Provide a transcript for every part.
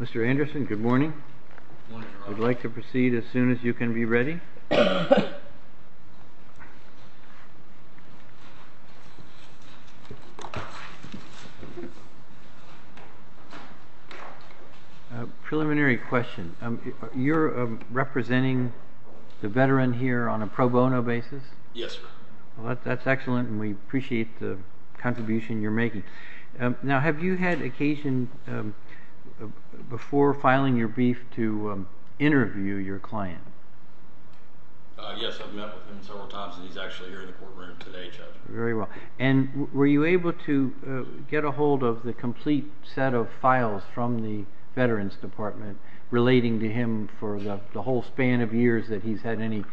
Mr. Anderson, good morning. I would like to proceed as soon as you can be ready. Preliminary question. You're representing the veteran here on a pro bono basis? Yes, sir. That's excellent and we appreciate the contribution you're making. Now, have you had occasion before filing your brief to interview your client? Yes, I've met with him several times and he's actually here in the courtroom today, Judge. Very well. And were you able to get a hold of the complete set of files from the Veterans Department relating to him for the whole span of years that he's had any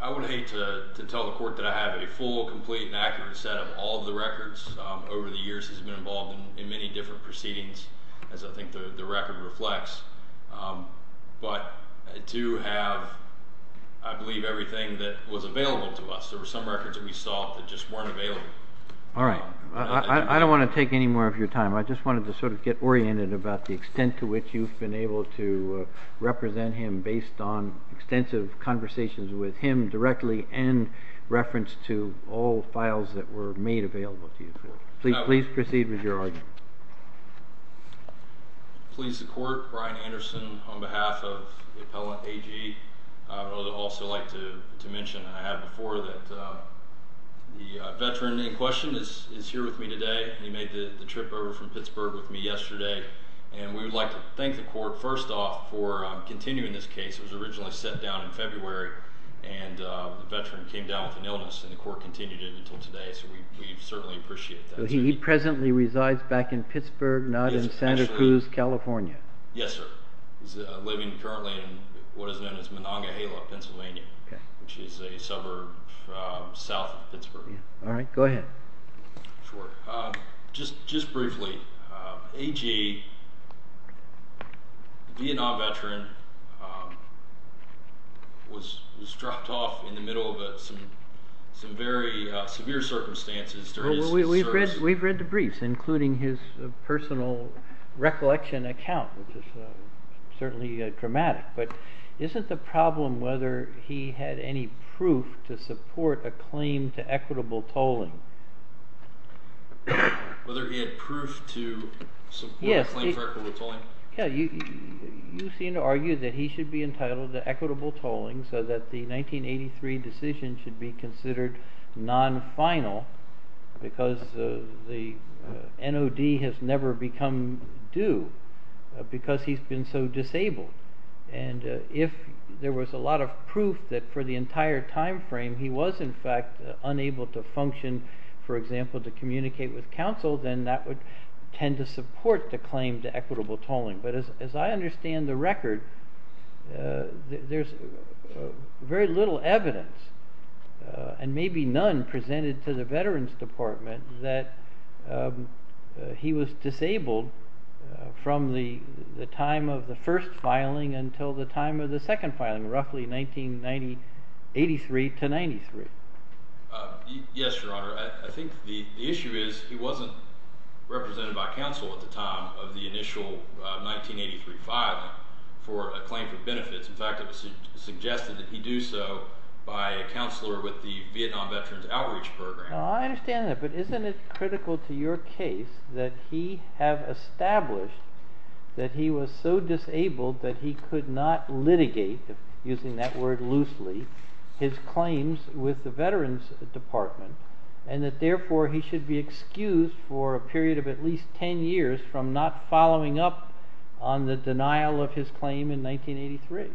I would hate to tell the court that I have a full, complete and accurate set of all the records over the years he's been involved in many different proceedings, as I think the record reflects. But I do have, I believe, everything that was available to us. There were some records that we saw that just weren't available. All right. I don't want to take any more of your time. I just wanted to sort of get oriented about the extent to which you've been able to conversations with him directly and reference to all files that were made available to you. Please proceed with your argument. Please, the court. Brian Anderson on behalf of the appellant AG. I would also like to mention I have before that the veteran in question is here with me today. He made the trip over from Pittsburgh with me yesterday and we would like to thank the court first off for continuing this case. It was originally set down in February and the veteran came down with an illness and the court continued it until today. So we certainly appreciate that. He presently resides back in Pittsburgh, not in Santa Cruz, California. Yes, sir. He's living currently in what is known as Monongahela, Pennsylvania, which is a suburb south of Pittsburgh. All right, go ahead. Sure, just briefly. AG, the Vietnam veteran, was dropped off in the middle of some very severe circumstances. We've read the briefs, including his personal recollection account, which is certainly dramatic, but isn't the problem whether he had any proof to support a claim to equitable tolling? Whether he had proof to support a claim to equitable tolling? Yes, you seem to argue that he should be entitled to equitable tolling so that the 1983 decision should be considered non-final because the NOD has never become due because he's been so disabled. And if there was a lot of proof that for the entire time frame he was, in fact, unable to function, for example, to communicate with counsel, then that would tend to support the claim to equitable tolling. But as I understand the record, there's very little evidence, and maybe none, presented to the Veterans Department that he was disabled from the time of the first filing until the time of the second filing, roughly 1983 to 93. Yes, your honor. I think the issue is he wasn't represented by counsel at the time of the initial 1983 filing for a claim for benefits. In fact, it was suggested that he do so by a counselor with the Vietnam Veterans Outreach Program. I understand that, but isn't it critical to your case that he have established that he was so disabled that he could not litigate using that word loosely his claims with the Veterans Department and that therefore he should be excused for a period of at least 10 years from not following up on the denial of his claim in 1983?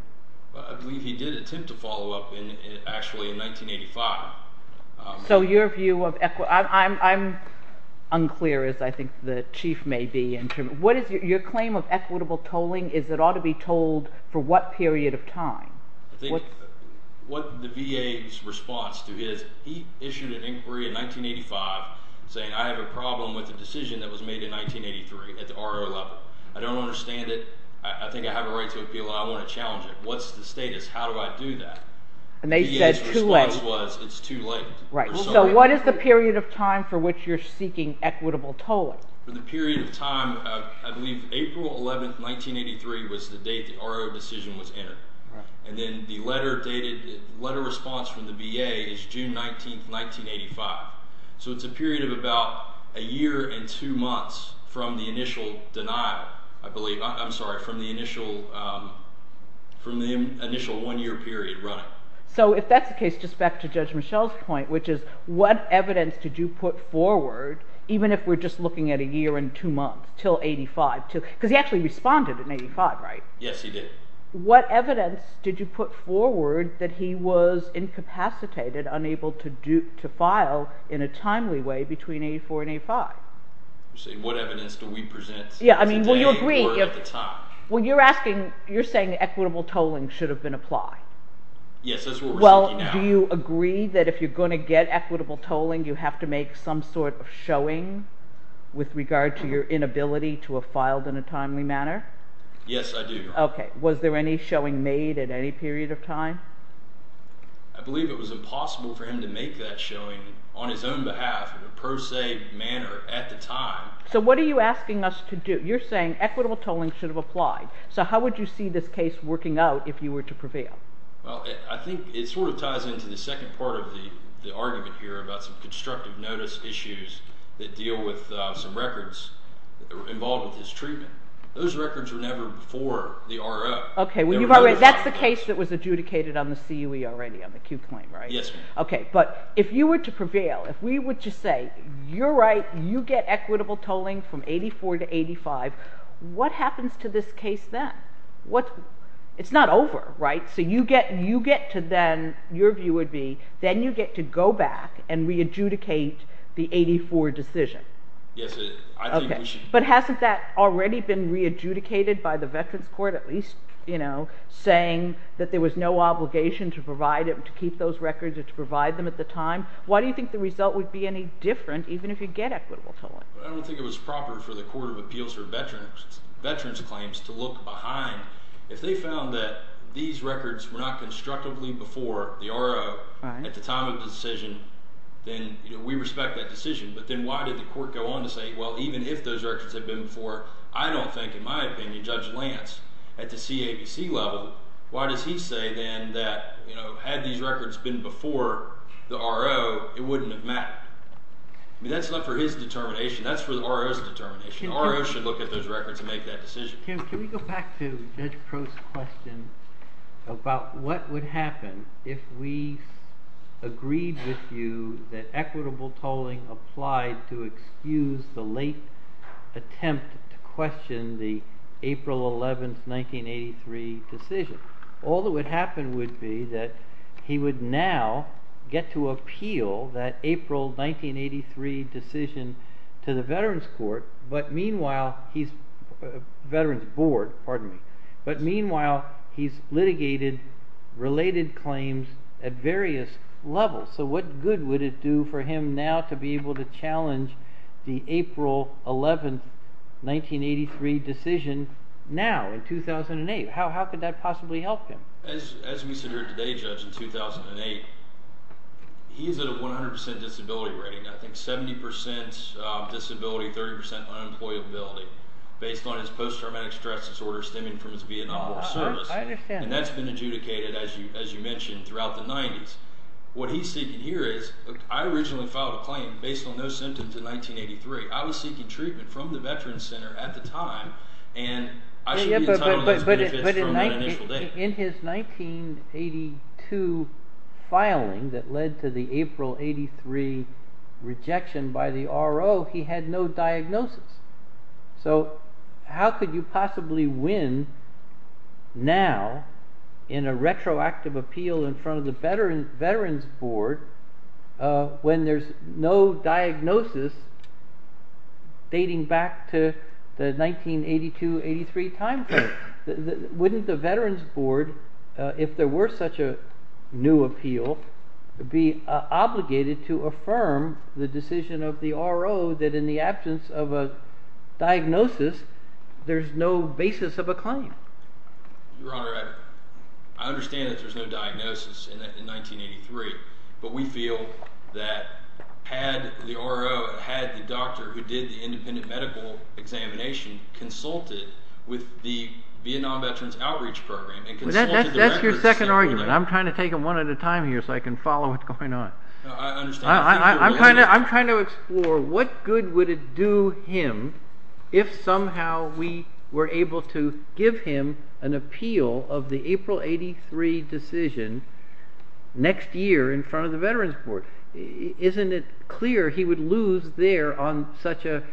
I believe he did attempt to follow up in actually in 1985. So your view of equity, I'm unclear as I think the chief may be in terms of what is your claim of equitable tolling is it ought to be told for what period of time? I think what the VA's response to his, he issued an inquiry in 1985 saying I have a problem with the decision that was made in 1983 at the RO level. I don't understand it. I think I have a right to appeal. I want to challenge it. What's the status? How do I do that? And they said too late. It's too late. Right, so what is the period of time for which you're seeking equitable tolling? For the period of time, I believe April 11th, 1983 was the date the RO decision was entered and then the letter dated letter response from the VA is June 19th, 1985. So it's a period of about a year and two months from the initial denial, I believe, I'm sorry, from the initial from the initial one-year period running. So if that's the case, just back to Judge Michelle's point, which is what evidence did you put forward, even if we're just looking at a year and two months till 85, because he actually responded in 85, right? Yes, he did. What evidence did you put forward that he was incapacitated, unable to file in a timely way between 84 and 85? You're saying what evidence do we present? Yeah, I mean, well, you're asking, you're saying equitable tolling should have been applied. Yes, that's what we're thinking now. Well, do you agree that if you're going to get equitable tolling, you have to make some sort of showing with regard to your inability to have filed in a timely manner? Yes, I do. Okay, was there any showing made at any period of time? I believe it was impossible for him to make that showing on his own behalf in a per se manner at the time. So what are you asking us to do? You're saying equitable tolling should have applied. So how would you see this case working out if you were to prevail? Well, I think it sort of part of the argument here about some constructive notice issues that deal with some records involved with his treatment. Those records were never before the RO. Okay, well, that's the case that was adjudicated on the CUE already, on the Q claim, right? Yes, ma'am. Okay, but if you were to prevail, if we would just say, you're right, you get equitable tolling from 84 to 85, what happens to this case then? It's not over, right? So you get to then, your view would be, then you get to go back and re-adjudicate the 84 decision. Yes, I think we should. But hasn't that already been re-adjudicated by the Veterans Court, at least, you know, saying that there was no obligation to provide, to keep those records, or to provide them at the time? Why do you think the result would be any different, even if you get equitable tolling? I don't think it was proper for the Court of Appeals for to look behind. If they found that these records were not constructively before the RO at the time of the decision, then, you know, we respect that decision. But then why did the Court go on to say, well, even if those records had been before, I don't think, in my opinion, Judge Lance, at the CABC level, why does he say then that, you know, had these records been before the RO, it wouldn't have mattered? I mean, that's not for his determination, that's for the RO's determination. RO should look at those records and make that decision. Can we go back to Judge Crow's question about what would happen if we agreed with you that equitable tolling applied to excuse the late attempt to question the April 11, 1983 decision? All that would happen would be that he would now get to appeal that April 1983 decision to the Veterans Court, but meanwhile he's, Veterans Board, pardon me, but meanwhile he's litigated related claims at various levels. So what good would it do for him now to be able to challenge the April 11, 1983 decision now in 2008? How could that possibly help him? As we sit here today, Judge, in 2008, he's at a 100% disability rating. I think 70% disability, 30% unemployability, based on his post-traumatic stress disorder stemming from his Vietnam War service. I understand. And that's been adjudicated, as you mentioned, throughout the 90s. What he's seeking here is, I originally filed a claim based on no symptoms in 1983. I was seeking treatment from the Veterans Center at the time, and I should be entitled to those benefits from that initial date. But in his 1982 filing that led to the April 83 rejection by the RO, he had no diagnosis. So how could you possibly win now in a retroactive appeal in front of the Veterans Board when there's no diagnosis dating back to the 1982-83 time frame? Wouldn't the Veterans Board, if there were such a new appeal, be obligated to affirm the decision of the RO that in the absence of a diagnosis, there's no basis of a claim? Your Honor, I understand that there's no diagnosis in 1983, but we feel that had the RO, had the doctor who did the independent medical examination, consulted with the Vietnam Veterans Outreach Program and consulted the records... That's your second argument. I'm trying to take them one at a time here so I can follow what's going on. I'm trying to explore what good would it do him if somehow we were able to give him an appeal of April 83 decision next year in front of the Veterans Board. Isn't it clear he would lose there on such a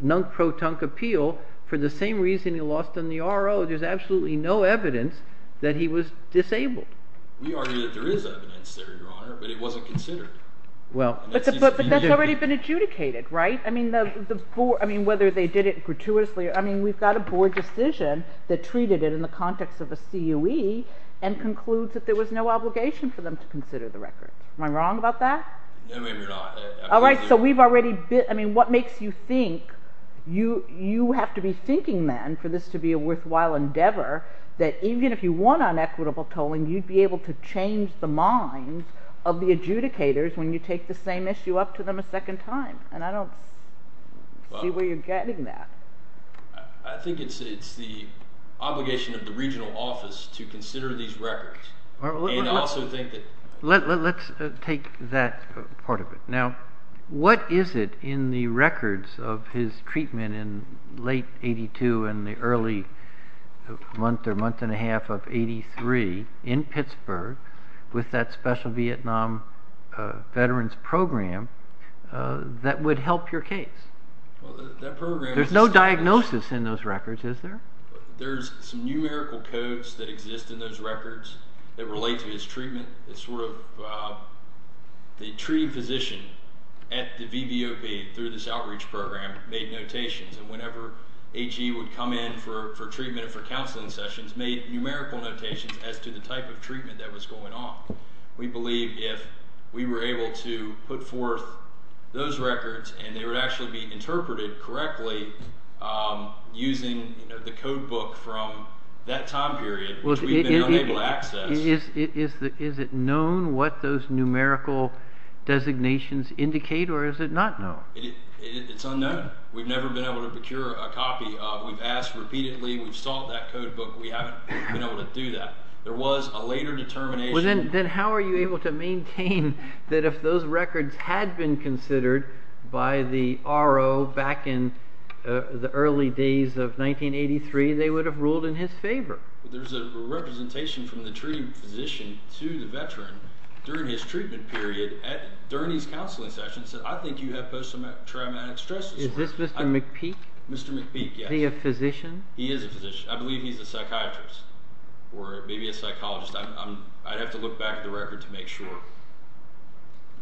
nunk-pro-tunk appeal for the same reason he lost on the RO? There's absolutely no evidence that he was disabled. We argue that there is evidence there, Your Honor, but it wasn't considered. But that's already been adjudicated, right? I mean, whether they did it gratuitously, I mean, we've got a board decision that treated it in the context of a CUE and concludes that there was no obligation for them to consider the record. Am I wrong about that? All right, so we've already been... I mean, what makes you think you have to be thinking then for this to be a worthwhile endeavor that even if you won on equitable tolling, you'd be able to change the minds of the adjudicators when you take the same issue up to them a second time? And I don't see where you're getting that. I think it's the obligation of the regional office to consider these records and also think that... Let's take that part of it. Now, what is it in the records of his treatment in late 82 and the early month or month and a half of 83 in Pittsburgh with that special Vietnam veterans program that would help your case? There's no diagnosis in those records, is there? There's some numerical codes that exist in those records that relate to his treatment. The treating physician at the VBOB through this outreach program made notations. And whenever HE would come in for treatment or for counseling sessions, made numerical notations as to the type of treatment that was going on. We believe if we were able to put forth those records and they would actually be interpreted correctly using the codebook from that time period, which we've been unable to access... Is it known what those numerical designations indicate or is it not known? It's unknown. We've never been able to procure a copy. We've asked repeatedly. We've sought that we've been able to do that. There was a later determination... Then how are you able to maintain that if those records had been considered by the RO back in the early days of 1983, they would have ruled in his favor? There's a representation from the treating physician to the veteran during his treatment period at... During his counseling sessions. I think you have post-traumatic stress disorder. Is this Mr. McPeak? Mr. McPeak, yes. Is he a physician? He is a physician. I believe he's a psychiatrist or maybe a psychologist. I'd have to look back at the record to make sure.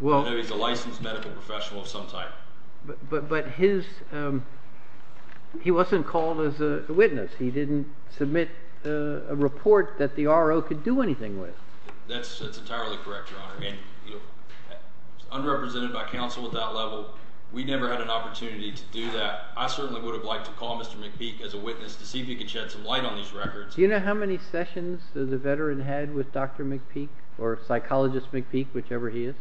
He's a licensed medical professional of some type. But he wasn't called as a witness. He didn't submit a report that the RO could do anything with. That's entirely correct, Your Honor. Unrepresented by counsel at that level, we never had an opportunity to do that. I certainly would have liked to call Mr. McPeak as a witness to see if he could shed some light on these records. Do you know how many sessions the veteran had with Dr. McPeak or psychologist McPeak, whichever he is?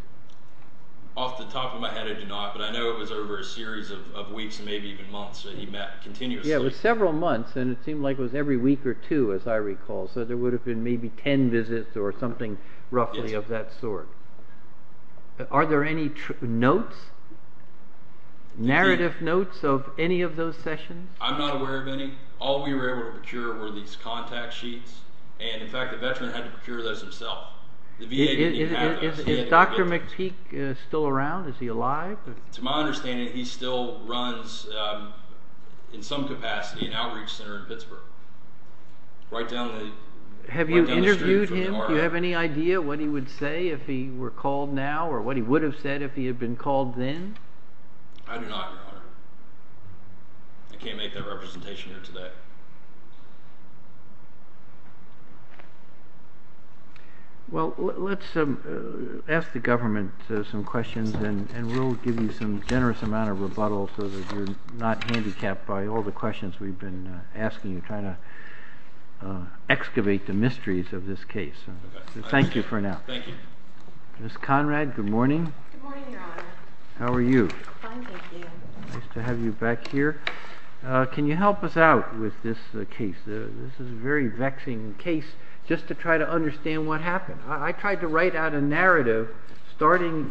Off the top of my head, I do not. But I know it was over a series of weeks and maybe even months that he met continuously. Yeah, it was several months and it seemed like it was every week or two, as I recall. There would have been maybe 10 visits or something roughly of that sort. Are there any notes, narrative notes of any of those sessions? I'm not aware of any. All we were able to procure were these contact sheets. And in fact, the veteran had to procure those himself. Is Dr. McPeak still around? Is he alive? To my understanding, he still runs, in some capacity, an outreach center in Pittsburgh. Have you interviewed him? Do you have any idea what he would say if he were called now or what he would have said if he had been called then? I do not, Your Honor. I can't make that representation here today. Well, let's ask the government some questions and we'll give you some generous amount of rebuttal so that you're not handicapped by all the questions we've been asking and trying to excavate the mysteries of this case. Thank you for now. Thank you. Ms. Conrad, good morning. Good morning, Your Honor. How are you? Fine, thank you. Nice to have you back here. Can you help us out with this case? This is a very vexing case, just to try to understand what happened. I tried to write out a narrative starting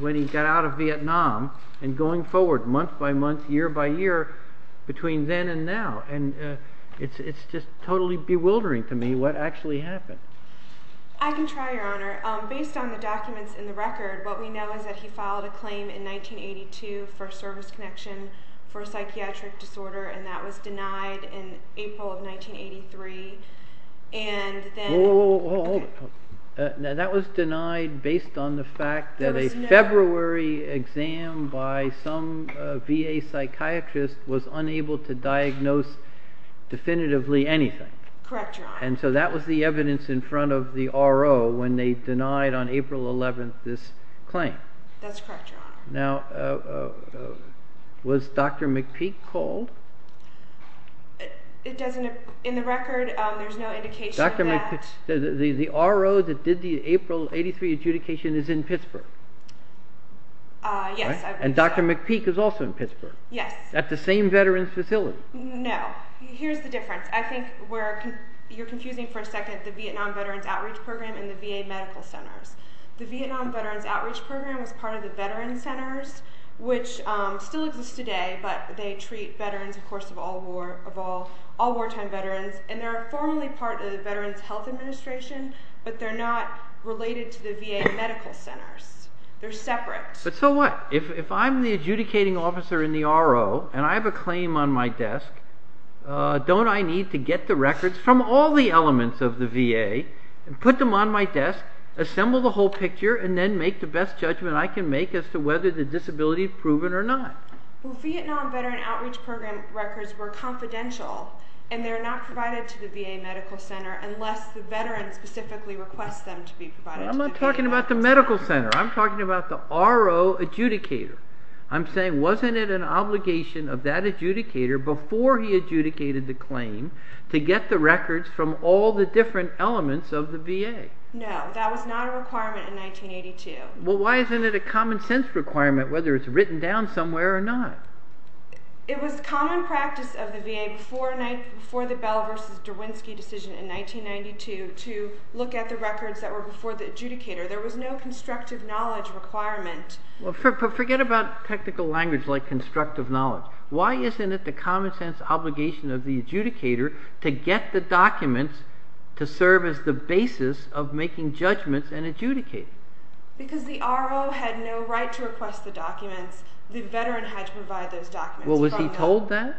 when he got out of Vietnam and going forward, month by month, year by year, between then and now. And it's just totally bewildering to me what actually happened. I can try, Your Honor. Based on the documents in the record, what we know is that he filed a claim in 1982 for service connection for a psychiatric disorder, and that was denied in April of 1983. And then... Whoa, whoa, whoa. Now, that was denied based on the fact that a February exam by some VA psychiatrist was unable to diagnose definitively anything. Correct, Your Honor. And so that was the evidence in front of the RO when they denied on April 11th this claim. That's correct, Your Honor. Now, was Dr. McPeak called? It doesn't... In the record, there's no indication that... Dr. McPeak... The RO that did the April 83 adjudication is in Pittsburgh. Yes. And Dr. McPeak is also in Pittsburgh. Yes. At the same veterans facility. No. Here's the difference. I think you're confusing for a second the Vietnam Veterans Outreach Program was part of the Veterans Centers, which still exists today, but they treat veterans, of course, of all wartime veterans, and they're formally part of the Veterans Health Administration, but they're not related to the VA medical centers. They're separate. But so what? If I'm the adjudicating officer in the RO and I have a claim on my desk, don't I need to get the records from all the elements of the VA and put them on my desk, assemble the whole picture, and then make the best judgment I can make as to whether the disability is proven or not? Well, Vietnam Veterans Outreach Program records were confidential, and they're not provided to the VA medical center unless the veteran specifically requests them to be provided. I'm not talking about the medical center. I'm talking about the RO adjudicator. I'm saying wasn't it an obligation of that adjudicator before he adjudicated the claim to get the records from all the different elements of the VA? No, that was not a requirement in 1982. Well, why isn't it a common sense requirement whether it's written down somewhere or not? It was common practice of the VA before the Bell versus Derwinski decision in 1992 to look at the records that were before the adjudicator. There was no constructive knowledge requirement. Well, forget about technical language like constructive knowledge. Why isn't it the making judgments and adjudicating? Because the RO had no right to request the documents. The veteran had to provide those documents. Well, was he told that?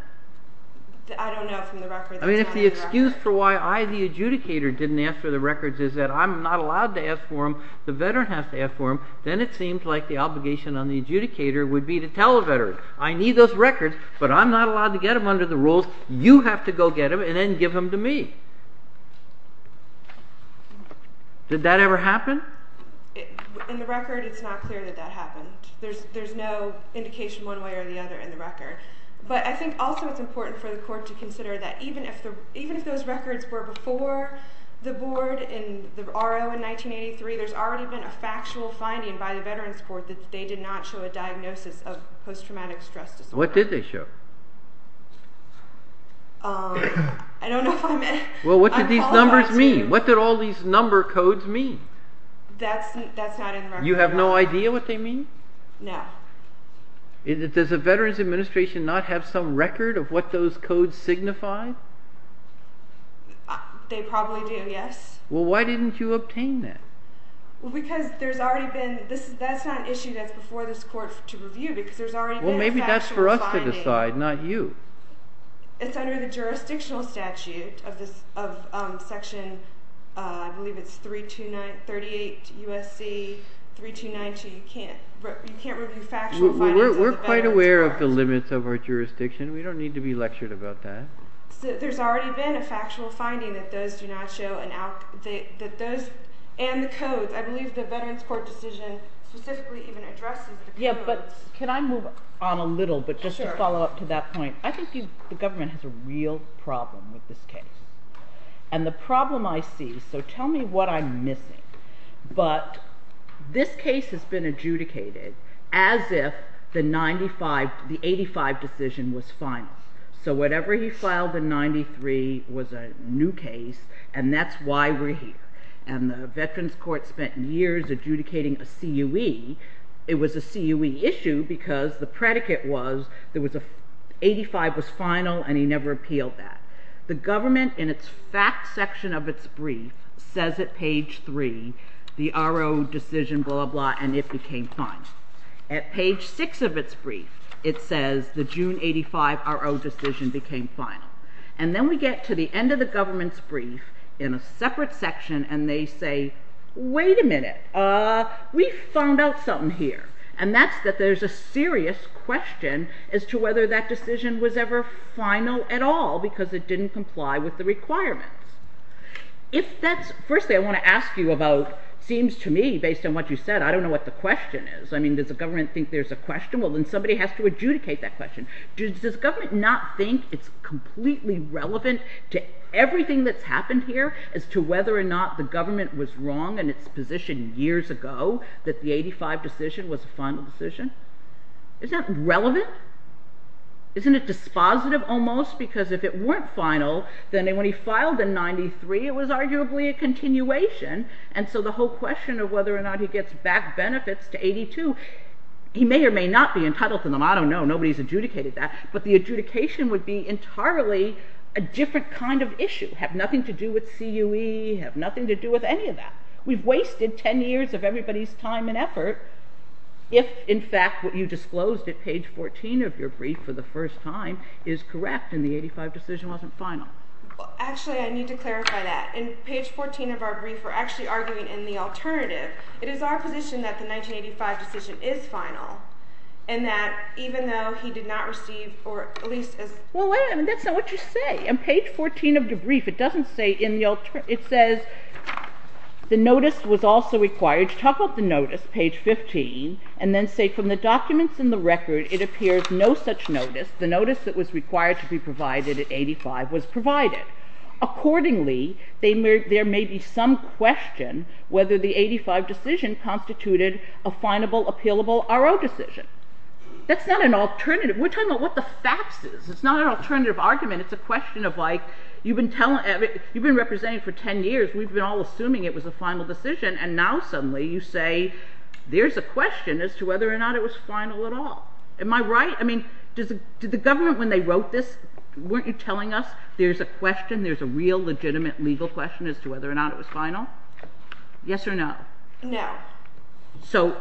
I don't know from the records. I mean, if the excuse for why I, the adjudicator, didn't ask for the records is that I'm not allowed to ask for them, the veteran has to ask for them, then it seems like the obligation on the adjudicator would be to tell the veteran, I need those records, but I'm not allowed to get them under the rules. You have to go get them and then give them to me. Did that ever happen? In the record, it's not clear that that happened. There's no indication one way or the other in the record. But I think also it's important for the court to consider that even if those records were before the board in the RO in 1983, there's already been a factual finding by the Veterans Court that they did not show a diagnosis of post traumatic stress disorder. I don't know if I'm qualified to- Well, what did these numbers mean? What did all these number codes mean? That's not in the record. You have no idea what they mean? No. Does the Veterans Administration not have some record of what those codes signify? They probably do, yes. Well, why didn't you obtain that? Well, because there's already been, that's not an issue that's before this court to review because there's already been a factual finding. Well, maybe that's for us to decide, not you. It's under the jurisdictional statute of section, I believe it's 329, 38 U.S.C. 3292. You can't review factual findings of the Veterans Court. We're quite aware of the limits of our jurisdiction. We don't need to be lectured about that. There's already been a factual finding that those do not show, and the codes. I believe the Veterans Court decision specifically even addresses the codes. Yeah, but can I move on a little, but just to follow up to that point? I think the government has a real problem with this case. And the problem I see, so tell me what I'm missing, but this case has been adjudicated as if the 85 decision was final. So whatever he filed in 93 was a new case, and that's why we're here. And the Veterans Court spent years adjudicating a CUE. It was a CUE issue because the predicate was 85 was final, and he never appealed that. The government, in its fact section of its brief, says at page three, the RO decision, blah, blah, and it became final. At page six of its brief, it says the June 85 RO decision became final. And then we get to the end of the government's brief in a separate section, and they say, wait a minute, we found out something here. And that's that there's a serious question as to whether that decision was ever final at all because it didn't comply with the requirements. Firstly, I want to ask you about, it seems to me, based on what you said, I don't know what the question is. I mean, does the government think there's a question? Well, then somebody has to adjudicate that question. Does the government not think it's completely relevant to everything that's happened here as to whether or not the government was wrong in its position years ago that the 85 decision was a final decision? Is that relevant? Isn't it dispositive almost? Because if it weren't final, then when he filed in 93, it was arguably a continuation. And so the whole question of whether or not he gets back benefits to 82, he may or may not be entitled to them. I don't know. Nobody's adjudicated that. But the adjudication would be entirely a different kind of issue, have nothing to do with CUE, have nothing to do with any of that. We've wasted 10 years of everybody's time and effort. If, in fact, what you disclosed at page 14 of your brief for the first time is correct and the 85 decision wasn't final. Well, actually, I need to clarify that. In page 14 of our brief, we're actually arguing in the alternative. It is our position that the 1985 decision is final and that even though he did not receive or at least as... Well, that's not what you say. On page 14 of the brief, it doesn't say in the alternative. It says the notice was also required. Top of the notice, page 15, and then say from the documents in the record, it appears no such notice. The notice that was required to be provided at 85 was provided. Accordingly, there may be some question whether the 85 decision constituted a finable, appealable, RO decision. That's not an alternative. We're talking about what the facts is. It's not an alternative argument. It's a question of like, you've been telling... You've been representing for 10 years. We've been all assuming it was a final decision. And now suddenly you say, there's a question as to whether or not it was final at all. Am I right? I mean, did the government when they wrote this, weren't you telling us there's a question? There's a real legitimate legal question as to whether or not it was final? Yes or no? No. So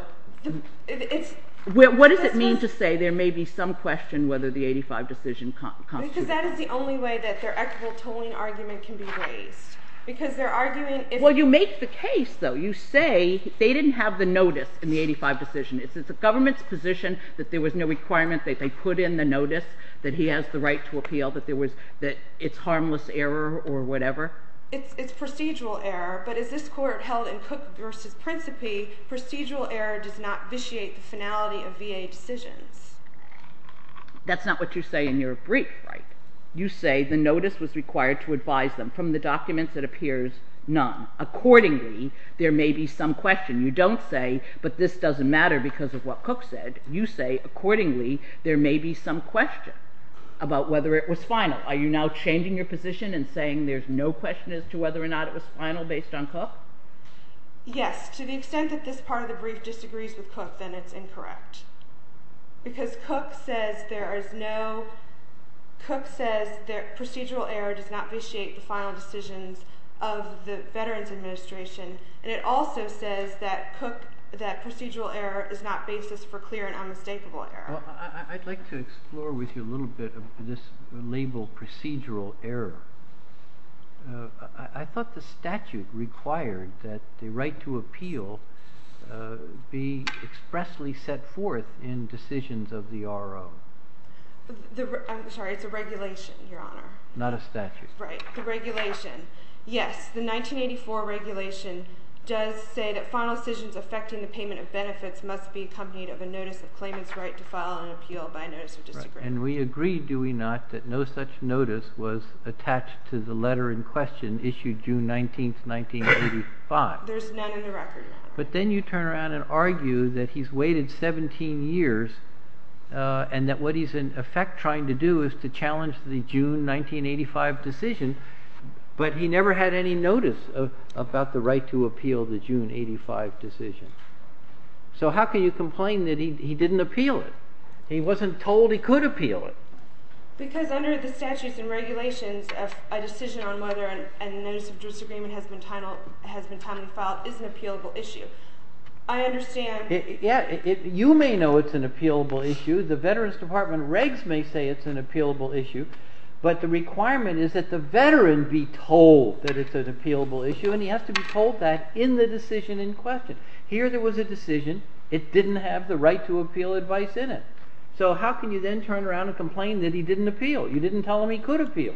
what does it mean to say there may be some question whether the 85 decision constituted? Because that is the only way that their equitable tolling argument can be raised. Because they're arguing... Well, you make the case, though. You say they didn't have the notice in the 85 decision. Is it the government's position that there was no requirement that they put in the notice that he has the right to appeal, that it's harmless error or whatever? It's procedural error. But as this court held in Cook v. Principe, procedural error does not vitiate the finality of VA decisions. That's not what you say in your brief, right? You say the notice was required to advise them from the documents that appears none. Accordingly, there may be some question. You don't say, but this doesn't matter because of what Cook said. You say, accordingly, there may be some question about whether it was final. Are you now changing your position and saying there's no question as to whether or not it was final based on Cook? Yes. To the extent that this part of the brief disagrees with Cook, then it's incorrect. Because Cook says procedural error does not vitiate the final decisions of the Veterans Administration. And it also says that procedural error is not basis for clear and unmistakable error. I'd like to explore with you a little bit of this label procedural error. I thought the statute required that the right to appeal be expressly set forth in decisions of the R.O. I'm sorry, it's a regulation, Your Honor. Not a statute. Right, the regulation. Yes, the 1984 regulation does say that final decisions affecting the payment of benefits must be accompanied of a notice of claimant's right to file an appeal by a notice of disagreement. And we agree, do we not, that no such notice was attached to the letter in question issued June 19, 1985. There's none in the record. But then you turn around and argue that he's waited 17 years and that what he's in effect trying to do is to challenge the June 1985 decision. But he never had any notice about the right to appeal the June 85 decision. So how can you complain that he didn't appeal it? He wasn't told he could appeal it. Because under the statutes and regulations, a decision on whether a notice of disagreement has been time to file is an appealable issue. I understand. You may know it's an appealable issue. The Veterans Department regs may say it's an appealable issue. But the requirement is that the veteran be told that it's an appealable issue and he has to be told that in the decision in question. Here there was a decision. It didn't have the right to appeal advice in it. So how can you then turn around and complain that he didn't appeal? You didn't tell him he could appeal.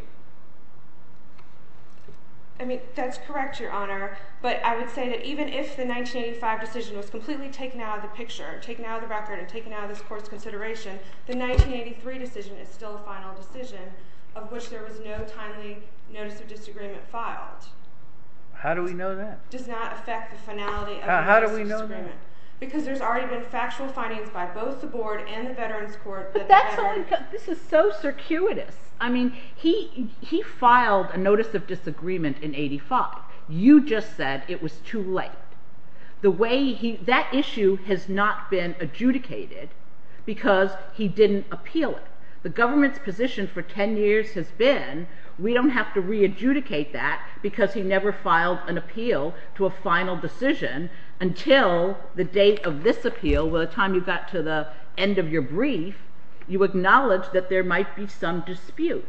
I mean, that's correct, Your Honor. But I would say that even if the 1985 decision was completely taken out of the picture, taken out of the record and taken out of this court's consideration, the 1983 decision is still a final decision of which there was no timely notice of disagreement filed. How do we know that? Does not affect the finality. How do we know that? Because there's already been factual findings by both the board and the Veterans Court. This is so circuitous. I mean, he he filed a notice of disagreement in 85. You just said it was too late. The way he that issue has not been adjudicated because he didn't appeal it. The government's position for 10 years has been we don't have to re-adjudicate that because he never filed an appeal to a final decision until the date of this appeal. By the time you got to the end of your brief, you acknowledged that there might be some dispute.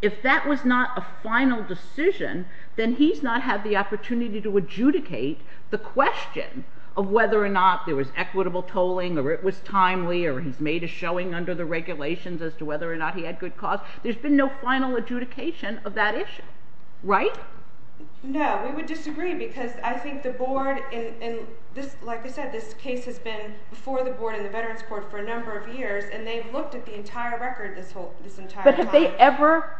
If that was not a final decision, then he's not had the opportunity to adjudicate the question of whether or not there was equitable tolling or it was timely or he's made a showing under the regulations as to whether or not he had good cause. There's been no final adjudication of that issue, right? No, we would disagree because I think the board and this like I said, this case has been before the board and the Veterans Court for a number of years and they've looked at the entire record this whole this entire time. But have they ever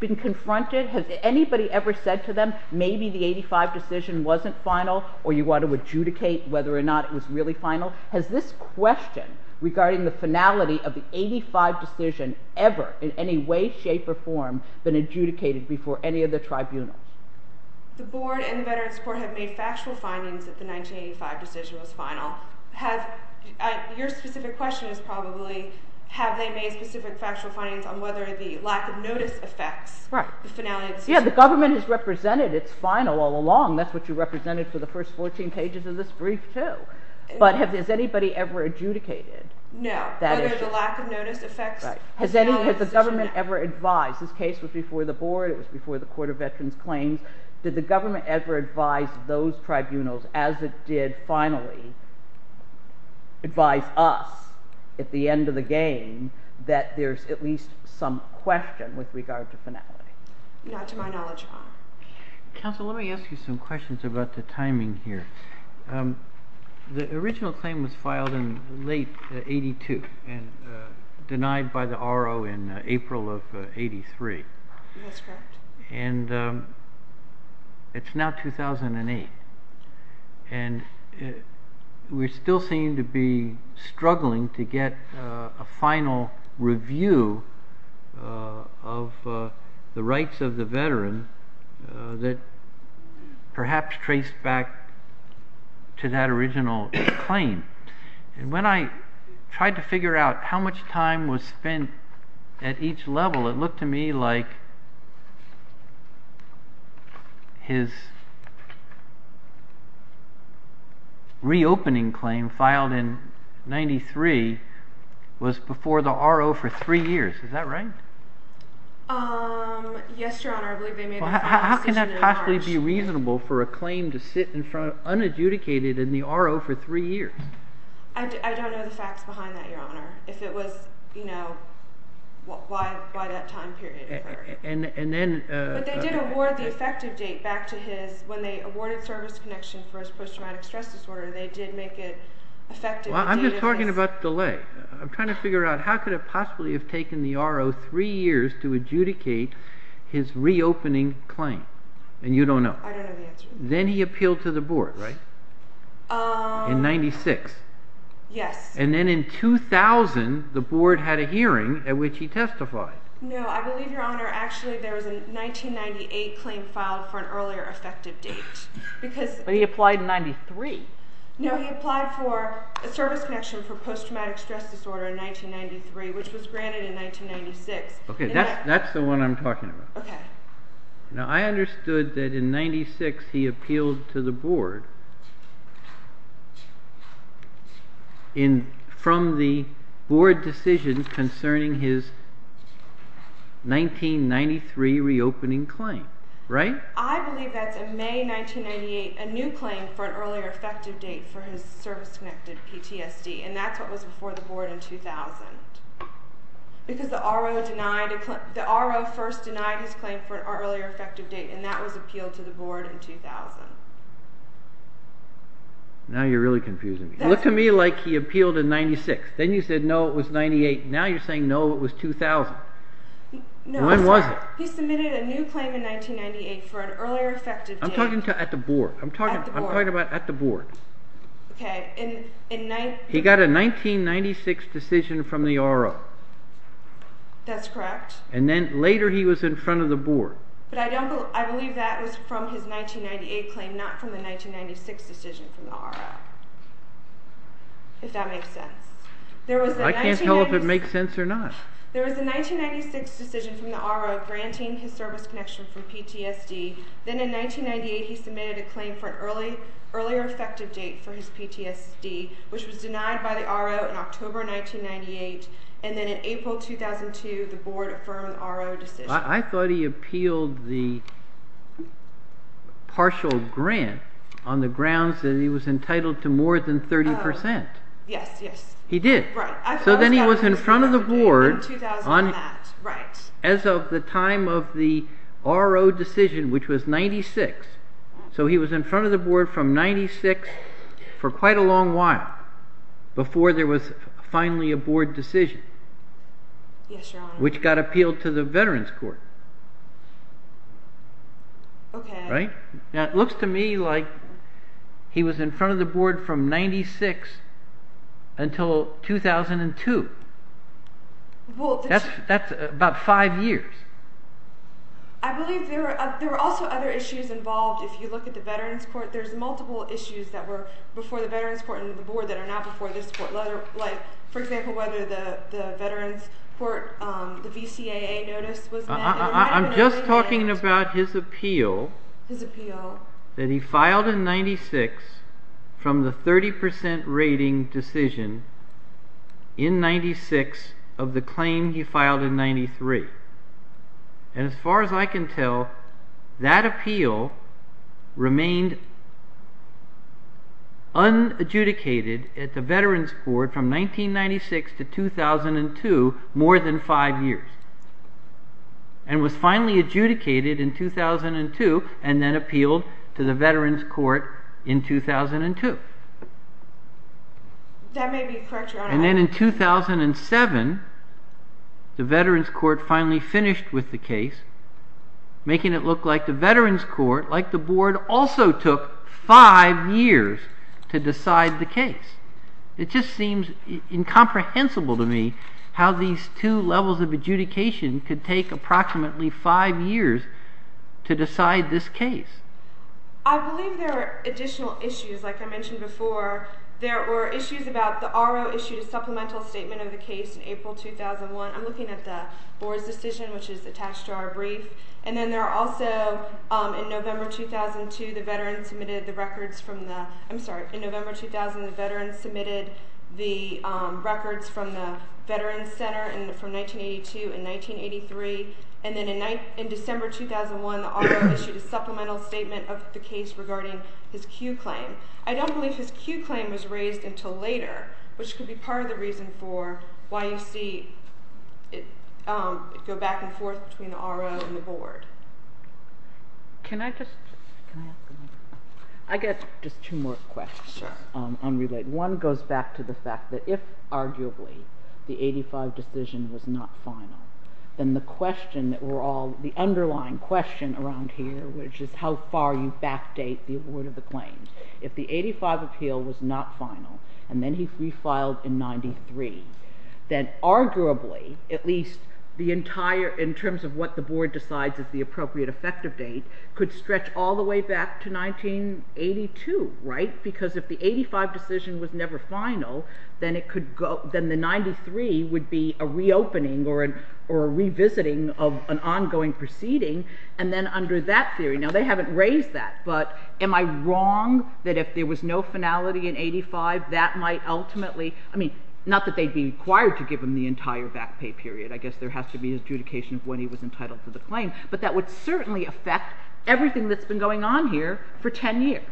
been confronted? Has anybody ever said to them maybe the 85 decision wasn't final or you want to adjudicate whether or not it was really final? Has this question regarding the finality of the 85 decision ever in any way, shape, or form been adjudicated before any of the tribunals? The board and the Veterans Court have made factual findings that the 1985 decision was final. Your specific question is probably have they made specific factual findings on whether the lack of notice affects the finality of the decision? Yeah, the government has represented it's final all along. That's what you represented for the first 14 pages of this brief too. But has anybody ever adjudicated? No, whether the lack of notice affects the final decision. Has the government ever advised? This case was before the board, it was before the Court of Veterans Claims. Did the government ever advise those tribunals as it did finally advise us at the end of the game that there's at least some question with regard to finality? Not to my knowledge, Your Honor. Counsel, let me ask you some questions about the timing here. The original claim was filed in late 82 and denied by the R.O. in April of 83. That's correct. And it's now 2008. And we still seem to be struggling to get a final review of the rights of the veteran that perhaps trace back to that original claim. And when I tried to figure out how much time was spent at each level, it looked to me like his reopening claim filed in 93 was before the R.O. for three years. Is that right? Um, yes, Your Honor. I believe they made a final decision in March. How can that possibly be reasonable for a claim to sit unadjudicated in the R.O. for three years? I don't know the facts behind that, Your Honor. If it was, you know, why that time period occurred. And then... But they did award the effective date back to his... When they awarded service connection for his post-traumatic stress disorder, they did make it effective... Well, I'm just talking about the delay. I'm trying to figure out how could it possibly have taken the R.O. three years to adjudicate his reopening claim. And you don't know. I don't know the answer. Then he appealed to the board, right? In 96. Yes. And then in 2000, the board had a hearing at which he testified. No, I believe, Your Honor, actually there was a 1998 claim filed for an earlier effective date. Because... But he applied in 93. No, he applied for a service connection for post-traumatic stress disorder in 1993, which was granted in 1996. Okay, that's the one I'm talking about. Okay. Now, I understood that in 96, he appealed to the board from the board decision concerning his 1993 reopening claim, right? I believe that's in May 1998, a new claim for an earlier effective date for his service-connected PTSD. And that's what was before the board in 2000. Because the R.O. denied... The R.O. first denied his claim for an earlier effective date, and that was appealed to the board in 2000. Now you're really confusing me. It looked to me like he appealed in 96. Then you said, no, it was 98. Now you're saying, no, it was 2000. When was it? He submitted a new claim in 1998 for an earlier effective date. I'm talking at the board. I'm talking about at the board. Okay. He got a 1996 decision from the R.O. That's correct. And then later, he was in front of the board. But I believe that was from his 1998 claim, not from the 1996 decision from the R.O., if that makes sense. I can't tell if it makes sense or not. There was a 1996 decision from the R.O. granting his service connection from PTSD. Then in 1998, he submitted a claim for an earlier effective date for his PTSD, which was denied by the R.O. in October 1998. And then in April 2002, the board affirmed the R.O. decision. I thought he appealed the partial grant on the grounds that he was entitled to more than 30%. Yes, yes. He did. So then he was in front of the board as of the time of the R.O. decision, which was 1996. So he was in front of the board from 1996 for quite a long while before there was finally a board decision. Yes, Your Honor. Which got appealed to the Veterans Court. Okay. Right? Now, it looks to me like he was in front of the board from 1996 until 2002. That's about five years. I believe there were also other issues involved. If you look at the Veterans Court, there's multiple issues that were before the Veterans Court and the board that are not before this court. Like, for example, whether the Veterans Court, the VCAA notice was met. I'm just talking about his appeal. His appeal. That he filed in 96 from the 30% rating decision in 96 of the claim he filed in 93. And as far as I can tell, that appeal remained unadjudicated at the Veterans Court from 1996 to 2002, more than five years. And was finally adjudicated in 2002 and then appealed to the Veterans Court in 2002. That may be correct, Your Honor. And then in 2007, the Veterans Court finally finished with the case, making it look like the Veterans Court, like the board, also took five years to decide the case. It just seems incomprehensible to me how these two levels of adjudication could take approximately five years to decide this case. I believe there are additional issues. Like I mentioned before, there were issues about the RO issues, supplemental statement of the case in April 2001. I'm looking at the board's decision, which is attached to our brief. And then there are also, in November 2002, the veterans submitted the records from the, I'm sorry, in November 2000, the veterans submitted the records from the Veterans Center from 1982 and 1983. And then in December 2001, the RO issued a supplemental statement of the case regarding his Q claim. I don't believe his Q claim was raised until later, which could be part of the reason for why you see it go back and forth between the RO and the board. Can I just, can I ask a question? I get just two more questions. Sure. Unrelated. One goes back to the fact that if arguably the 85 decision was not final, then the question that we're all, the underlying question around here, which is how far you backdate the award of the claims. If the 85 appeal was not final, and then he refiled in 93, then arguably, at least the appropriate effective date could stretch all the way back to 1982, right? Because if the 85 decision was never final, then it could go, then the 93 would be a reopening or a revisiting of an ongoing proceeding. And then under that theory, now they haven't raised that, but am I wrong that if there was no finality in 85, that might ultimately, I mean, not that they'd be required to give him the entire back pay period, I guess there has to be adjudication of when he was entitled to the claim, but that would certainly affect everything that's been going on here for 10 years.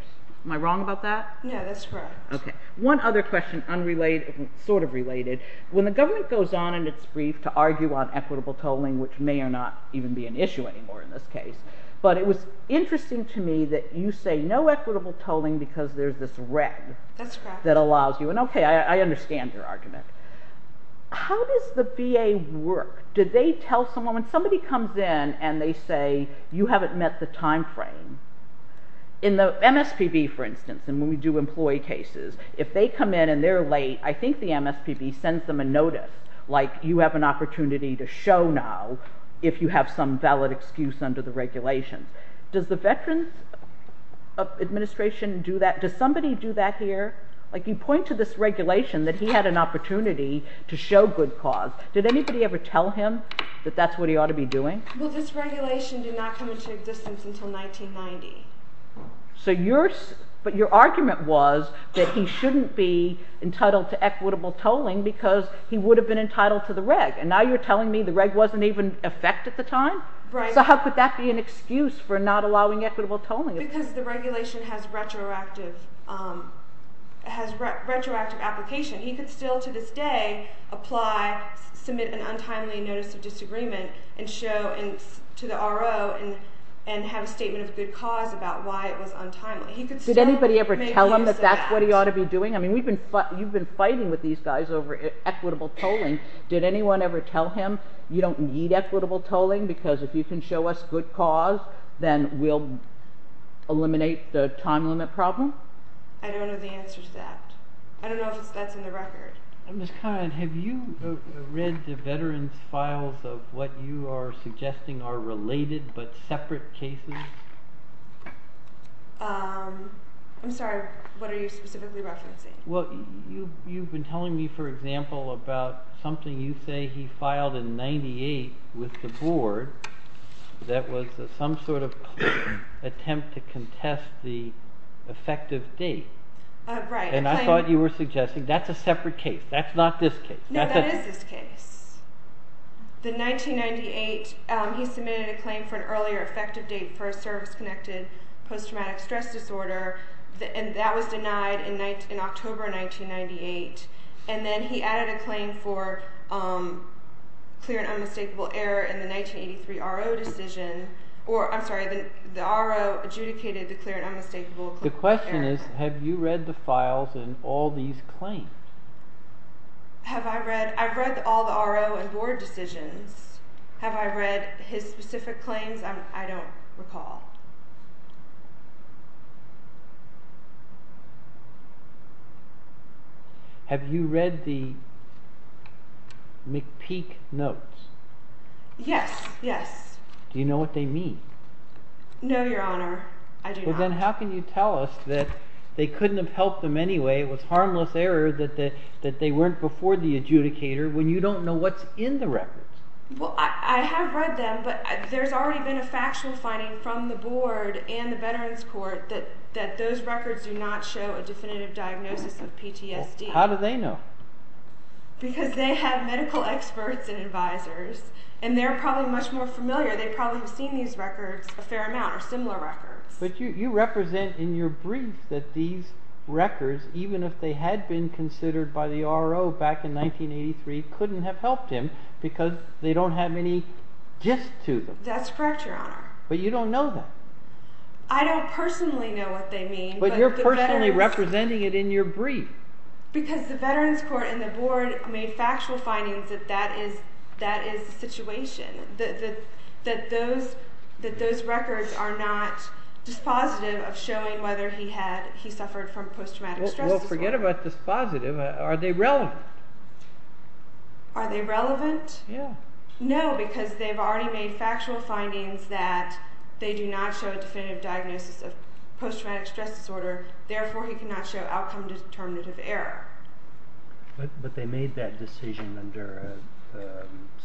Am I wrong about that? Yeah, that's correct. Okay. One other question, unrelated, sort of related. When the government goes on in its brief to argue on equitable tolling, which may or not even be an issue anymore in this case, but it was interesting to me that you say no equitable tolling because there's this reg. That's correct. That allows you, and okay, I understand your argument. How does the VA work? Did they tell someone, when somebody comes in and they say, you haven't met the timeframe in the MSPB, for instance, and when we do employee cases, if they come in and they're late, I think the MSPB sends them a notice, like you have an opportunity to show now if you have some valid excuse under the regulations. Does the Veterans Administration do that? Does somebody do that here? Like you point to this regulation that he had an opportunity to show good cause. Did anybody ever tell him that that's what he ought to be doing? Well, this regulation did not come into existence until 1990. But your argument was that he shouldn't be entitled to equitable tolling because he would have been entitled to the reg. And now you're telling me the reg wasn't even in effect at the time? Right. So how could that be an excuse for not allowing equitable tolling? Because the regulation has retroactive application. He could still, to this day, apply, submit an untimely notice of disagreement to the RO and have a statement of good cause about why it was untimely. He could still make use of that. Did anybody ever tell him that that's what he ought to be doing? I mean, you've been fighting with these guys over equitable tolling. Did anyone ever tell him, you don't need equitable tolling because if you can show us good cause, then we'll eliminate the time limit problem? I don't know the answer to that. I don't know if that's in the record. Ms. Conrad, have you read the veteran's files of what you are suggesting are related but separate cases? I'm sorry. What are you specifically referencing? Well, you've been telling me, for example, about something you say he filed in 98 with the board that was some sort of attempt to contest the effective date. Right. I thought you were suggesting that's a separate case. That's not this case. No, that is this case. The 1998, he submitted a claim for an earlier effective date for a service-connected post-traumatic stress disorder, and that was denied in October 1998. Then he added a claim for clear and unmistakable error in the 1983 RO decision. I'm sorry, the RO adjudicated the clear and unmistakable error. The question is, have you read the files in all these claims? I've read all the RO and board decisions. Have I read his specific claims? I don't recall. Have you read the McPeak notes? Yes, yes. Do you know what they mean? No, Your Honor, I do not. Then how can you tell us that they couldn't have helped them anyway? It was harmless error that they weren't before the adjudicator when you don't know what's in the records. Well, I have read them, but there's already been a factual finding from the board and the Veterans Court that those records do not show a definitive diagnosis of PTSD. How do they know? Because they have medical experts and advisors, and they're probably much more familiar. They probably have seen these records a fair amount or similar records. But you represent in your brief that these records, even if they had been considered by the RO back in 1983, couldn't have helped him because they don't have any gist to them. That's correct, Your Honor. But you don't know that. I don't personally know what they mean. But you're personally representing it in your brief. Because the Veterans Court and the board made factual findings that that is the situation, that those records are not dispositive of showing whether he had suffered from post-traumatic stress disorder. Well, forget about dispositive. Are they relevant? Are they relevant? Yeah. No, because they've already made factual findings that they do not show a definitive diagnosis of post-traumatic stress disorder. Therefore, he cannot show outcome-determinative error. But they made that decision under a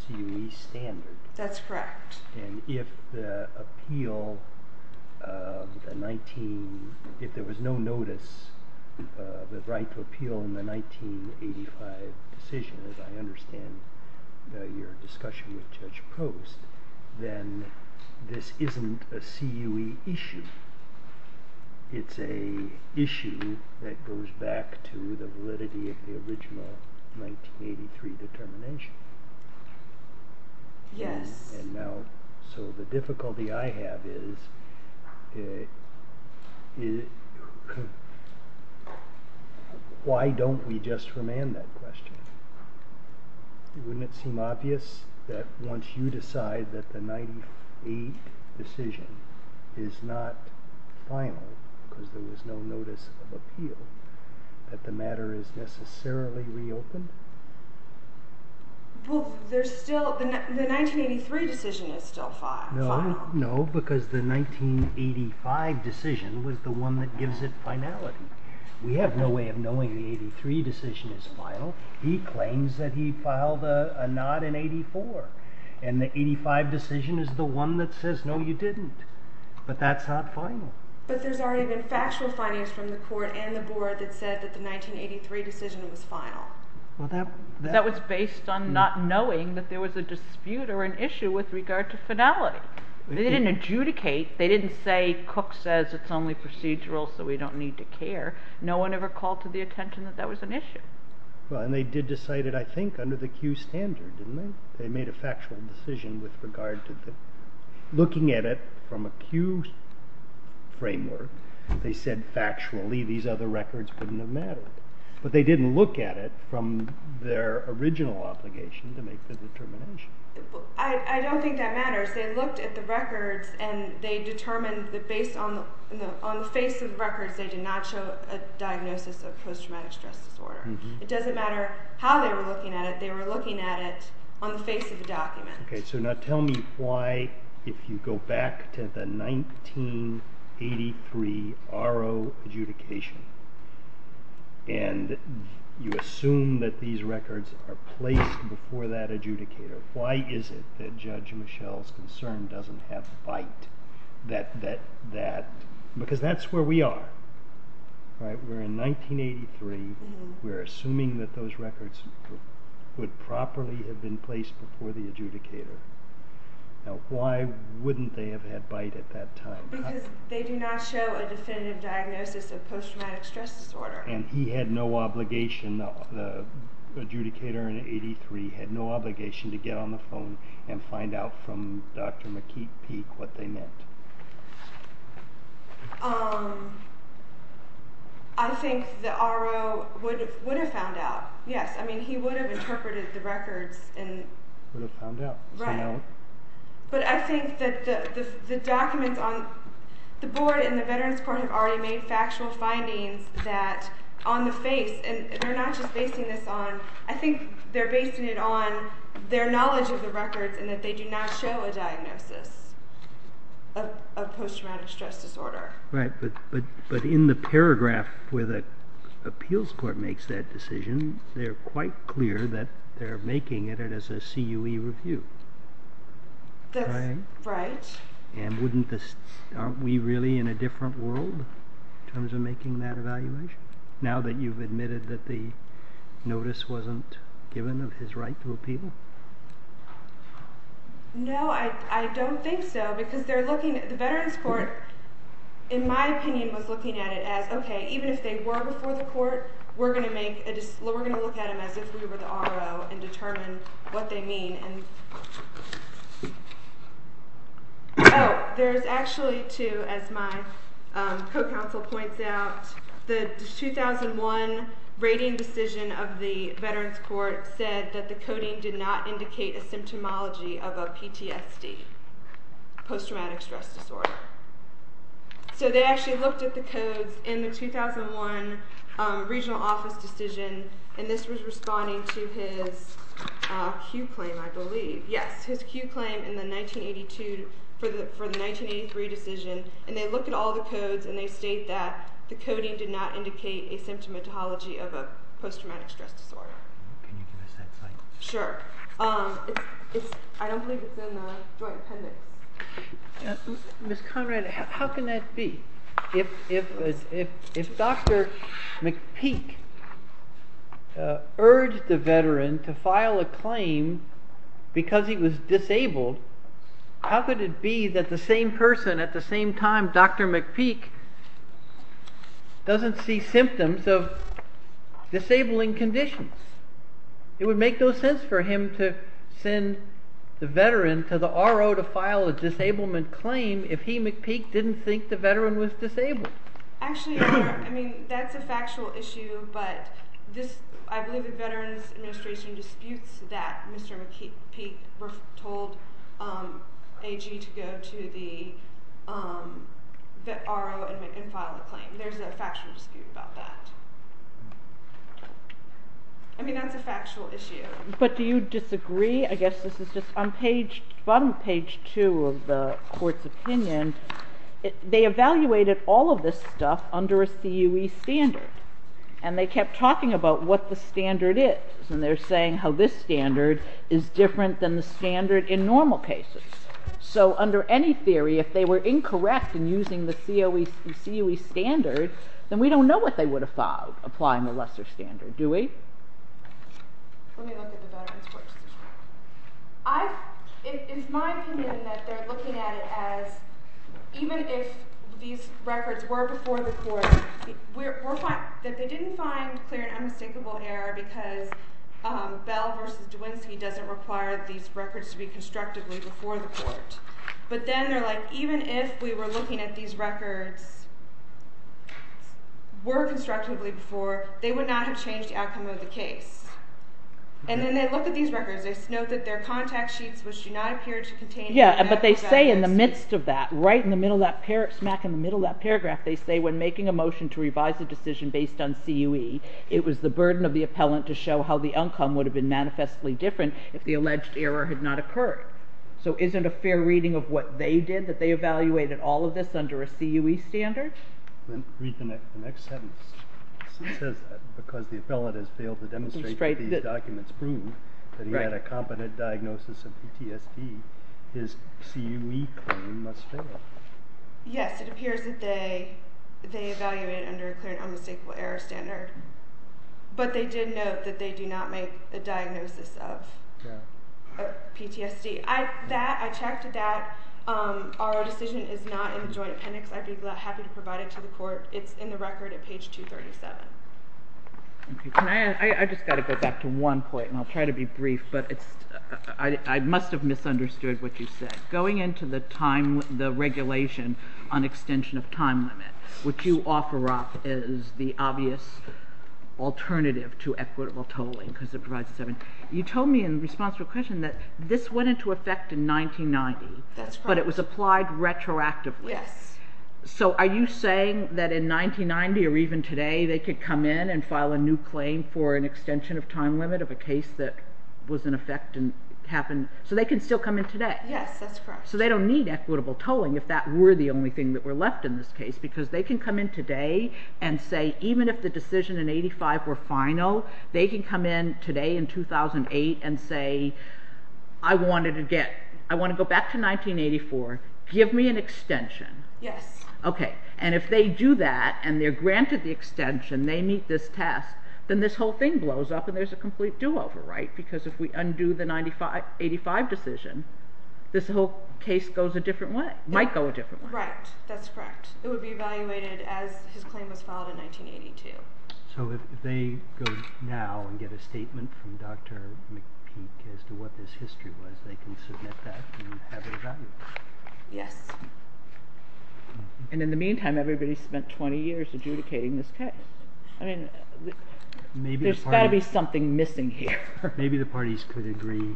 CUE standard. That's correct. And if the appeal of the 19, if there was no notice of the right to appeal in the 1985 decision, as I understand your discussion with Judge Post, then this isn't a CUE issue. It's an issue that goes back to the validity of the original 1983 determination. Yes. And now, so the difficulty I have is, why don't we just remand that question? Wouldn't it seem obvious that once you decide that the 1988 decision is not final, because there was no notice of appeal, that the matter is necessarily reopened? Well, there's still, the 1983 decision is still final. No, no, because the 1985 decision was the one that gives it finality. We have no way of knowing the 1983 decision is final. He claims that he filed a nod in 84. And the 85 decision is the one that says, no, you didn't. But that's not final. But there's already been factual findings from the court and the board that said that the 1983 decision was final. That was based on not knowing that there was a dispute or an issue with regard to finality. They didn't adjudicate. They didn't say, Cook says it's only procedural, so we don't need to care. No one ever called to the attention that that was an issue. Well, and they did decide it, I think, under the Q standard, didn't they? They made a factual decision with regard to looking at it from a Q framework. They said, factually, these other records wouldn't have mattered. But they didn't look at it from their original obligation to make the determination. I don't think that matters. They looked at the records and they determined that based on the face of the records, they did not show a diagnosis of post-traumatic stress disorder. It doesn't matter how they were looking at it. They were looking at it on the face of a document. Okay, so now tell me why, if you go back to the 1983 R.O. adjudication, and you assume that these records are placed before that adjudicator, why is it that Judge Michelle's concern doesn't have fight? Because that's where we are, right? Where in 1983, we're assuming that those records would properly have been placed before the adjudicator. Now, why wouldn't they have had bite at that time? Because they do not show a definitive diagnosis of post-traumatic stress disorder. And he had no obligation, the adjudicator in 83, had no obligation to get on the phone and find out from Dr. McKeith Peek what they meant. Um, I think the R.O. would have found out. Yes, I mean, he would have interpreted the records and... Would have found out. Right. But I think that the documents on the board and the Veterans Court have already made factual findings that on the face, and they're not just basing this on, I think they're basing it on their knowledge of the records and that they do not show a diagnosis. Of post-traumatic stress disorder. Right, but in the paragraph where the appeals court makes that decision, they're quite clear that they're making it as a CUE review. That's right. And wouldn't this... Aren't we really in a different world in terms of making that evaluation? Now that you've admitted that the notice wasn't given of his right to appeal? No, I don't think so, because they're looking at... The Veterans Court, in my opinion, was looking at it as, okay, even if they were before the court, we're going to make a... We're going to look at them as if we were the R.O. and determine what they mean. And, oh, there's actually two, as my co-counsel points out. The 2001 rating decision of the Veterans Court said that the coding did not indicate a symptomology of a PTSD, post-traumatic stress disorder. So they actually looked at the codes in the 2001 regional office decision and this was responding to his CUE claim, I believe. Yes, his CUE claim in the 1982... For the 1983 decision. And they looked at all the codes and they state that the coding did not indicate a symptomatology of a post-traumatic stress disorder. Can you give us that slide? Sure. I don't believe it's in the joint appendix. Ms. Conrad, how can that be? If Dr. McPeak urged the veteran to file a claim because he was disabled, how could it be that the same person at the same time, Dr. McPeak, doesn't see symptoms of disabling conditions? It would make no sense for him to send the veteran to the RO to file a disablement claim if he, McPeak, didn't think the veteran was disabled. Actually, that's a factual issue, but I believe the Veterans Administration disputes that Mr. McPeak told AG to go to the RO and file a claim. There's a factual dispute about that. I mean, that's a factual issue. But do you disagree? I guess this is just on bottom page two of the court's opinion. They evaluated all of this stuff under a COE standard and they kept talking about what the standard is. And they're saying how this standard is different than the standard in normal cases. So under any theory, if they were incorrect in using the COE standard, then we don't know what they would have filed applying the lesser standard, do we? Let me look at the Veterans Court's decision. It's my opinion that they're looking at it as, even if these records were before the court, that they didn't find clear and unmistakable error because Bell versus Dwinsky doesn't require these records to be constructively before the court. But then they're like, even if we were looking at these records were constructively before, they would not have changed the outcome of the case. And then they look at these records, they note that they're contact sheets which do not appear to contain- Yeah, but they say in the midst of that, right in the middle of that, smack in the middle of that paragraph, they say when making a motion to revise the decision based on COE, it was the burden of the appellant to show how the outcome would have been manifestly different if the alleged error had not occurred. So isn't a fair reading of what they did that they evaluated all of this under a COE standard? Then read the next sentence. It says that because the appellant has failed to demonstrate that these documents prove that he had a competent diagnosis of PTSD, his COE claim must fail. Yes, it appears that they evaluated under a clear and unmistakable error standard. But they did note that they do not make a diagnosis of PTSD. I checked that our decision is not in the joint appendix. I'd be happy to provide it to the court. It's in the record at page 237. Okay, I just got to go back to one point and I'll try to be brief, but I must have misunderstood what you said. Going into the time, the regulation on extension of time limit, what you offer up is the obvious alternative to equitable tolling because it provides a seven. You told me in response to a question that this went into effect in 1990, but it was applied retroactively. Yes. So are you saying that in 1990 or even today, they could come in and file a new claim for an extension of time limit of a case that was in effect and happened, so they can still come in today? Yes, that's correct. So they don't need equitable tolling if that were the only thing that were left in this case, because they can come in today and say, even if the decision in 85 were final, they can come in today in 2008 and say, I want to go back to 1984, give me an extension. Yes. Okay, and if they do that, and they're granted the extension, they meet this test, then this whole thing blows up and there's a complete do-over, right? Because if we undo the 85 decision, this whole case goes a different way, might go a different way. Right, that's correct. It would be evaluated as his claim was filed in 1982. So if they go now and get a statement from Dr. McPeak as to what this history was, they can submit that and have it evaluated. Yes, and in the meantime, everybody spent 20 years adjudicating this case. I mean, there's got to be something missing here. Maybe the parties could agree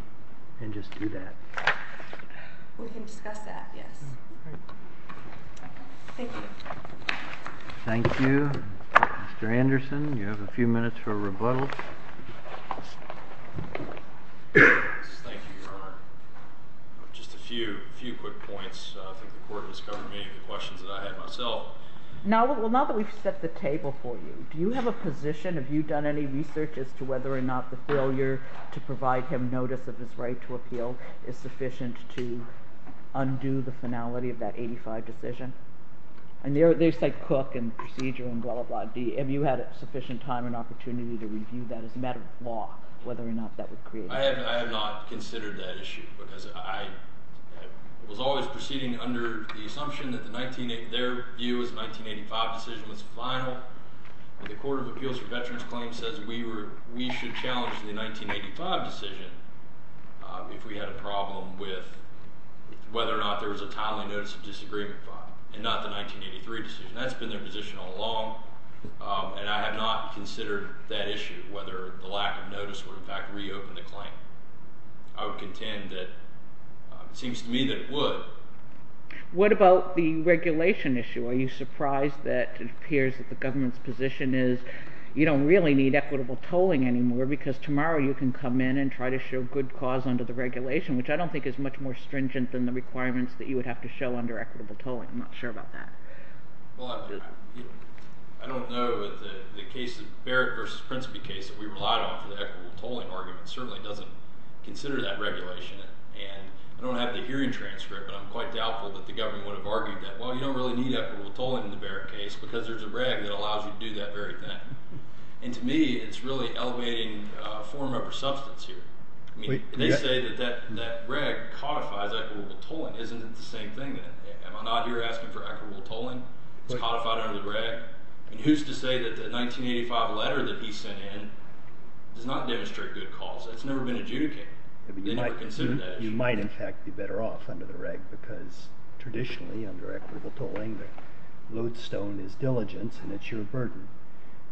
and just do that. We can discuss that, yes. Thank you. Thank you, Mr. Anderson. You have a few minutes for rebuttal. Yes, thank you, Your Honor. Just a few quick points. I think the court has covered many of the questions that I had myself. Now, well, now that we've set the table for you, do you have a position, have you done any research as to whether or not the failure to provide him notice of his right to appeal is sufficient to undo the finality of that 85 decision? And they say Cook and procedure and blah, blah, blah. Have you had sufficient time and opportunity to review that as a matter of law, whether or not that would create? I have not considered that issue because I was always proceeding under the assumption that their view is 1985 decision was final. The Court of Appeals for Veterans Claims says we should challenge the 1985 decision if we had a problem with whether or not there was a timely notice of disagreement file and not the 1983 decision. That's been their position all along. And I have not considered that issue, whether the lack of notice would in fact reopen the claim. I would contend that it seems to me that it would. What about the regulation issue? Are you surprised that it appears that the government's position is you don't really need equitable tolling anymore because tomorrow you can come in and try to show good cause under the regulation, which I don't think is much more stringent than the requirements that you would have to show under equitable tolling. I'm not sure about that. Well, I don't know that the case of Barrett versus Principe case that we relied on for the equitable tolling argument certainly doesn't consider that regulation. And I don't have the hearing transcript, but I'm quite doubtful that the government would have argued that, well, you don't really need equitable tolling in the Barrett case because there's a reg that allows you to do that very thing. And to me, it's really elevating form of a substance here. I mean, they say that that reg codifies equitable tolling. Isn't it the same thing? Am I not here asking for equitable tolling? It's codified under the reg. And who's to say that the 1985 letter that he sent in does not demonstrate good cause? That's never been adjudicated. You might, in fact, be better off under the reg because traditionally under equitable tolling, the lodestone is diligence and it's your burden.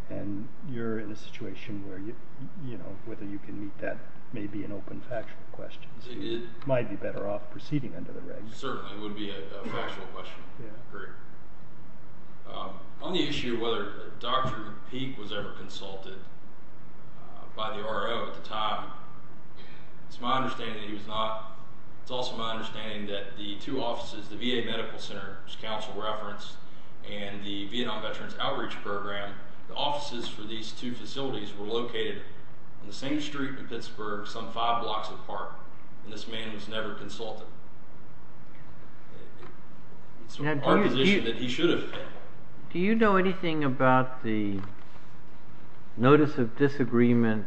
And you're in a situation where, you know, whether you can meet that may be an open factual question. So you might be better off proceeding under the reg. Certainly, it would be a factual question. On the issue of whether Dr. Peek was ever consulted by the R.O. at the time, it's my understanding that he was not. It's also my understanding that the two offices, the VA Medical Center, which Council referenced, and the Vietnam Veterans Outreach Program, the offices for these two facilities were located on the same street in Pittsburgh, some five blocks apart. And this man was never consulted. It's our position that he should have been. Do you know anything about the notice of disagreement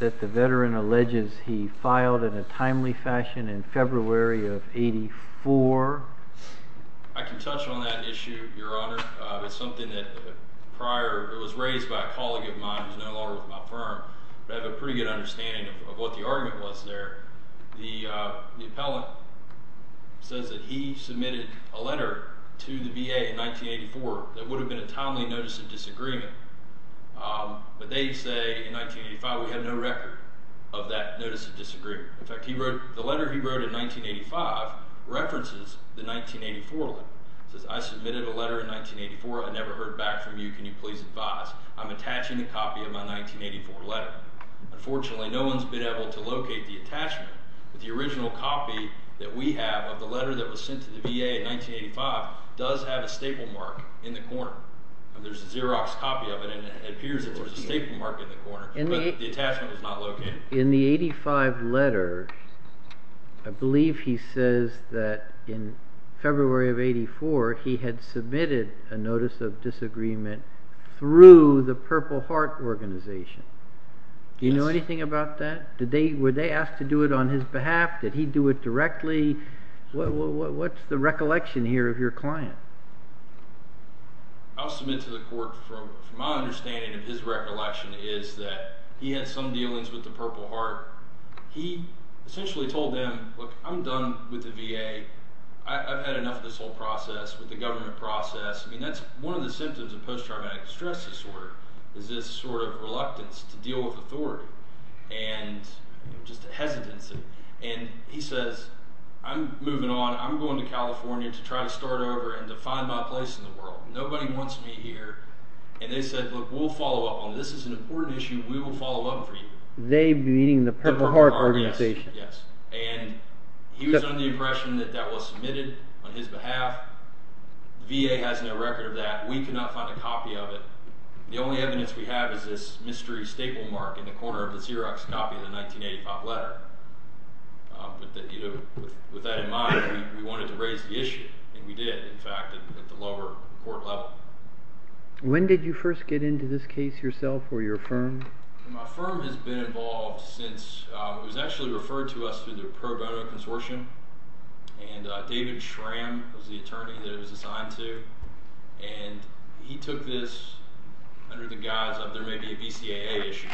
that the veteran alleges he filed in a timely fashion in February of 84? I can touch on that issue, Your Honor. It's something that prior, it was raised by a colleague of mine who's no longer with my firm, but I have a pretty good understanding of what the argument was there. The appellant says that he submitted a letter to the VA in 1984 that would have been a timely notice of disagreement, but they say in 1985, we had no record of that notice of disagreement. In fact, the letter he wrote in 1985 references the 1984 letter. It says, I submitted a letter in 1984. I never heard back from you. Can you please advise? I'm attaching a copy of my 1984 letter. Unfortunately, no one's been able to locate the attachment, but the original copy that we have of the letter that was sent to the VA in 1985 does have a staple mark in the corner. There's a Xerox copy of it, and it appears that there's a staple mark in the corner, but the attachment was not located. In the 85 letter, I believe he says that in February of 84, he had submitted a notice of disagreement through the Purple Heart organization. Do you know anything about that? Were they asked to do it on his behalf? Did he do it directly? What's the recollection here of your client? I'll submit to the court from my understanding of his recollection is that he had some dealings with the Purple Heart. He essentially told them, look, I'm done with the VA. I've had enough of this whole process with the government process. That's one of the symptoms of post-traumatic stress disorder is this reluctance to deal with authority. Just a hesitancy. And he says, I'm moving on. I'm going to California to try to start over and to find my place in the world. Nobody wants me here. And they said, look, we'll follow up on this. This is an important issue. We will follow up for you. They meaning the Purple Heart organization? Yes. And he was under the impression that that was submitted on his behalf. VA has no record of that. We could not find a copy of it. The only evidence we have is this mystery staple mark in the corner of the Xerox copy of the 1985 letter. But with that in mind, we wanted to raise the issue. And we did, in fact, at the lower court level. When did you first get into this case yourself or your firm? My firm has been involved since it was actually referred to us through the pro bono consortium. And David Schramm was the attorney that it was assigned to. And he took this under the guise of there may be a BCAA issue.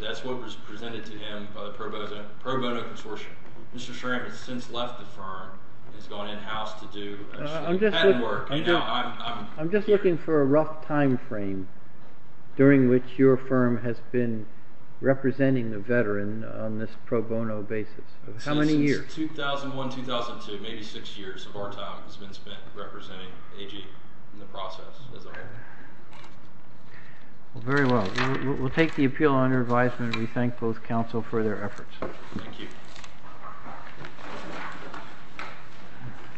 That's what was presented to him by the pro bono consortium. Mr. Schramm has since left the firm. He's gone in-house to do patent work. I'm just looking for a rough time frame during which your firm has been representing the veteran on this pro bono basis. How many years? 2001, 2002. Maybe six years of our time has been spent representing AG in the process as a whole. Well, very well. We'll take the appeal under advisement. We thank both counsel for their efforts. Thank you.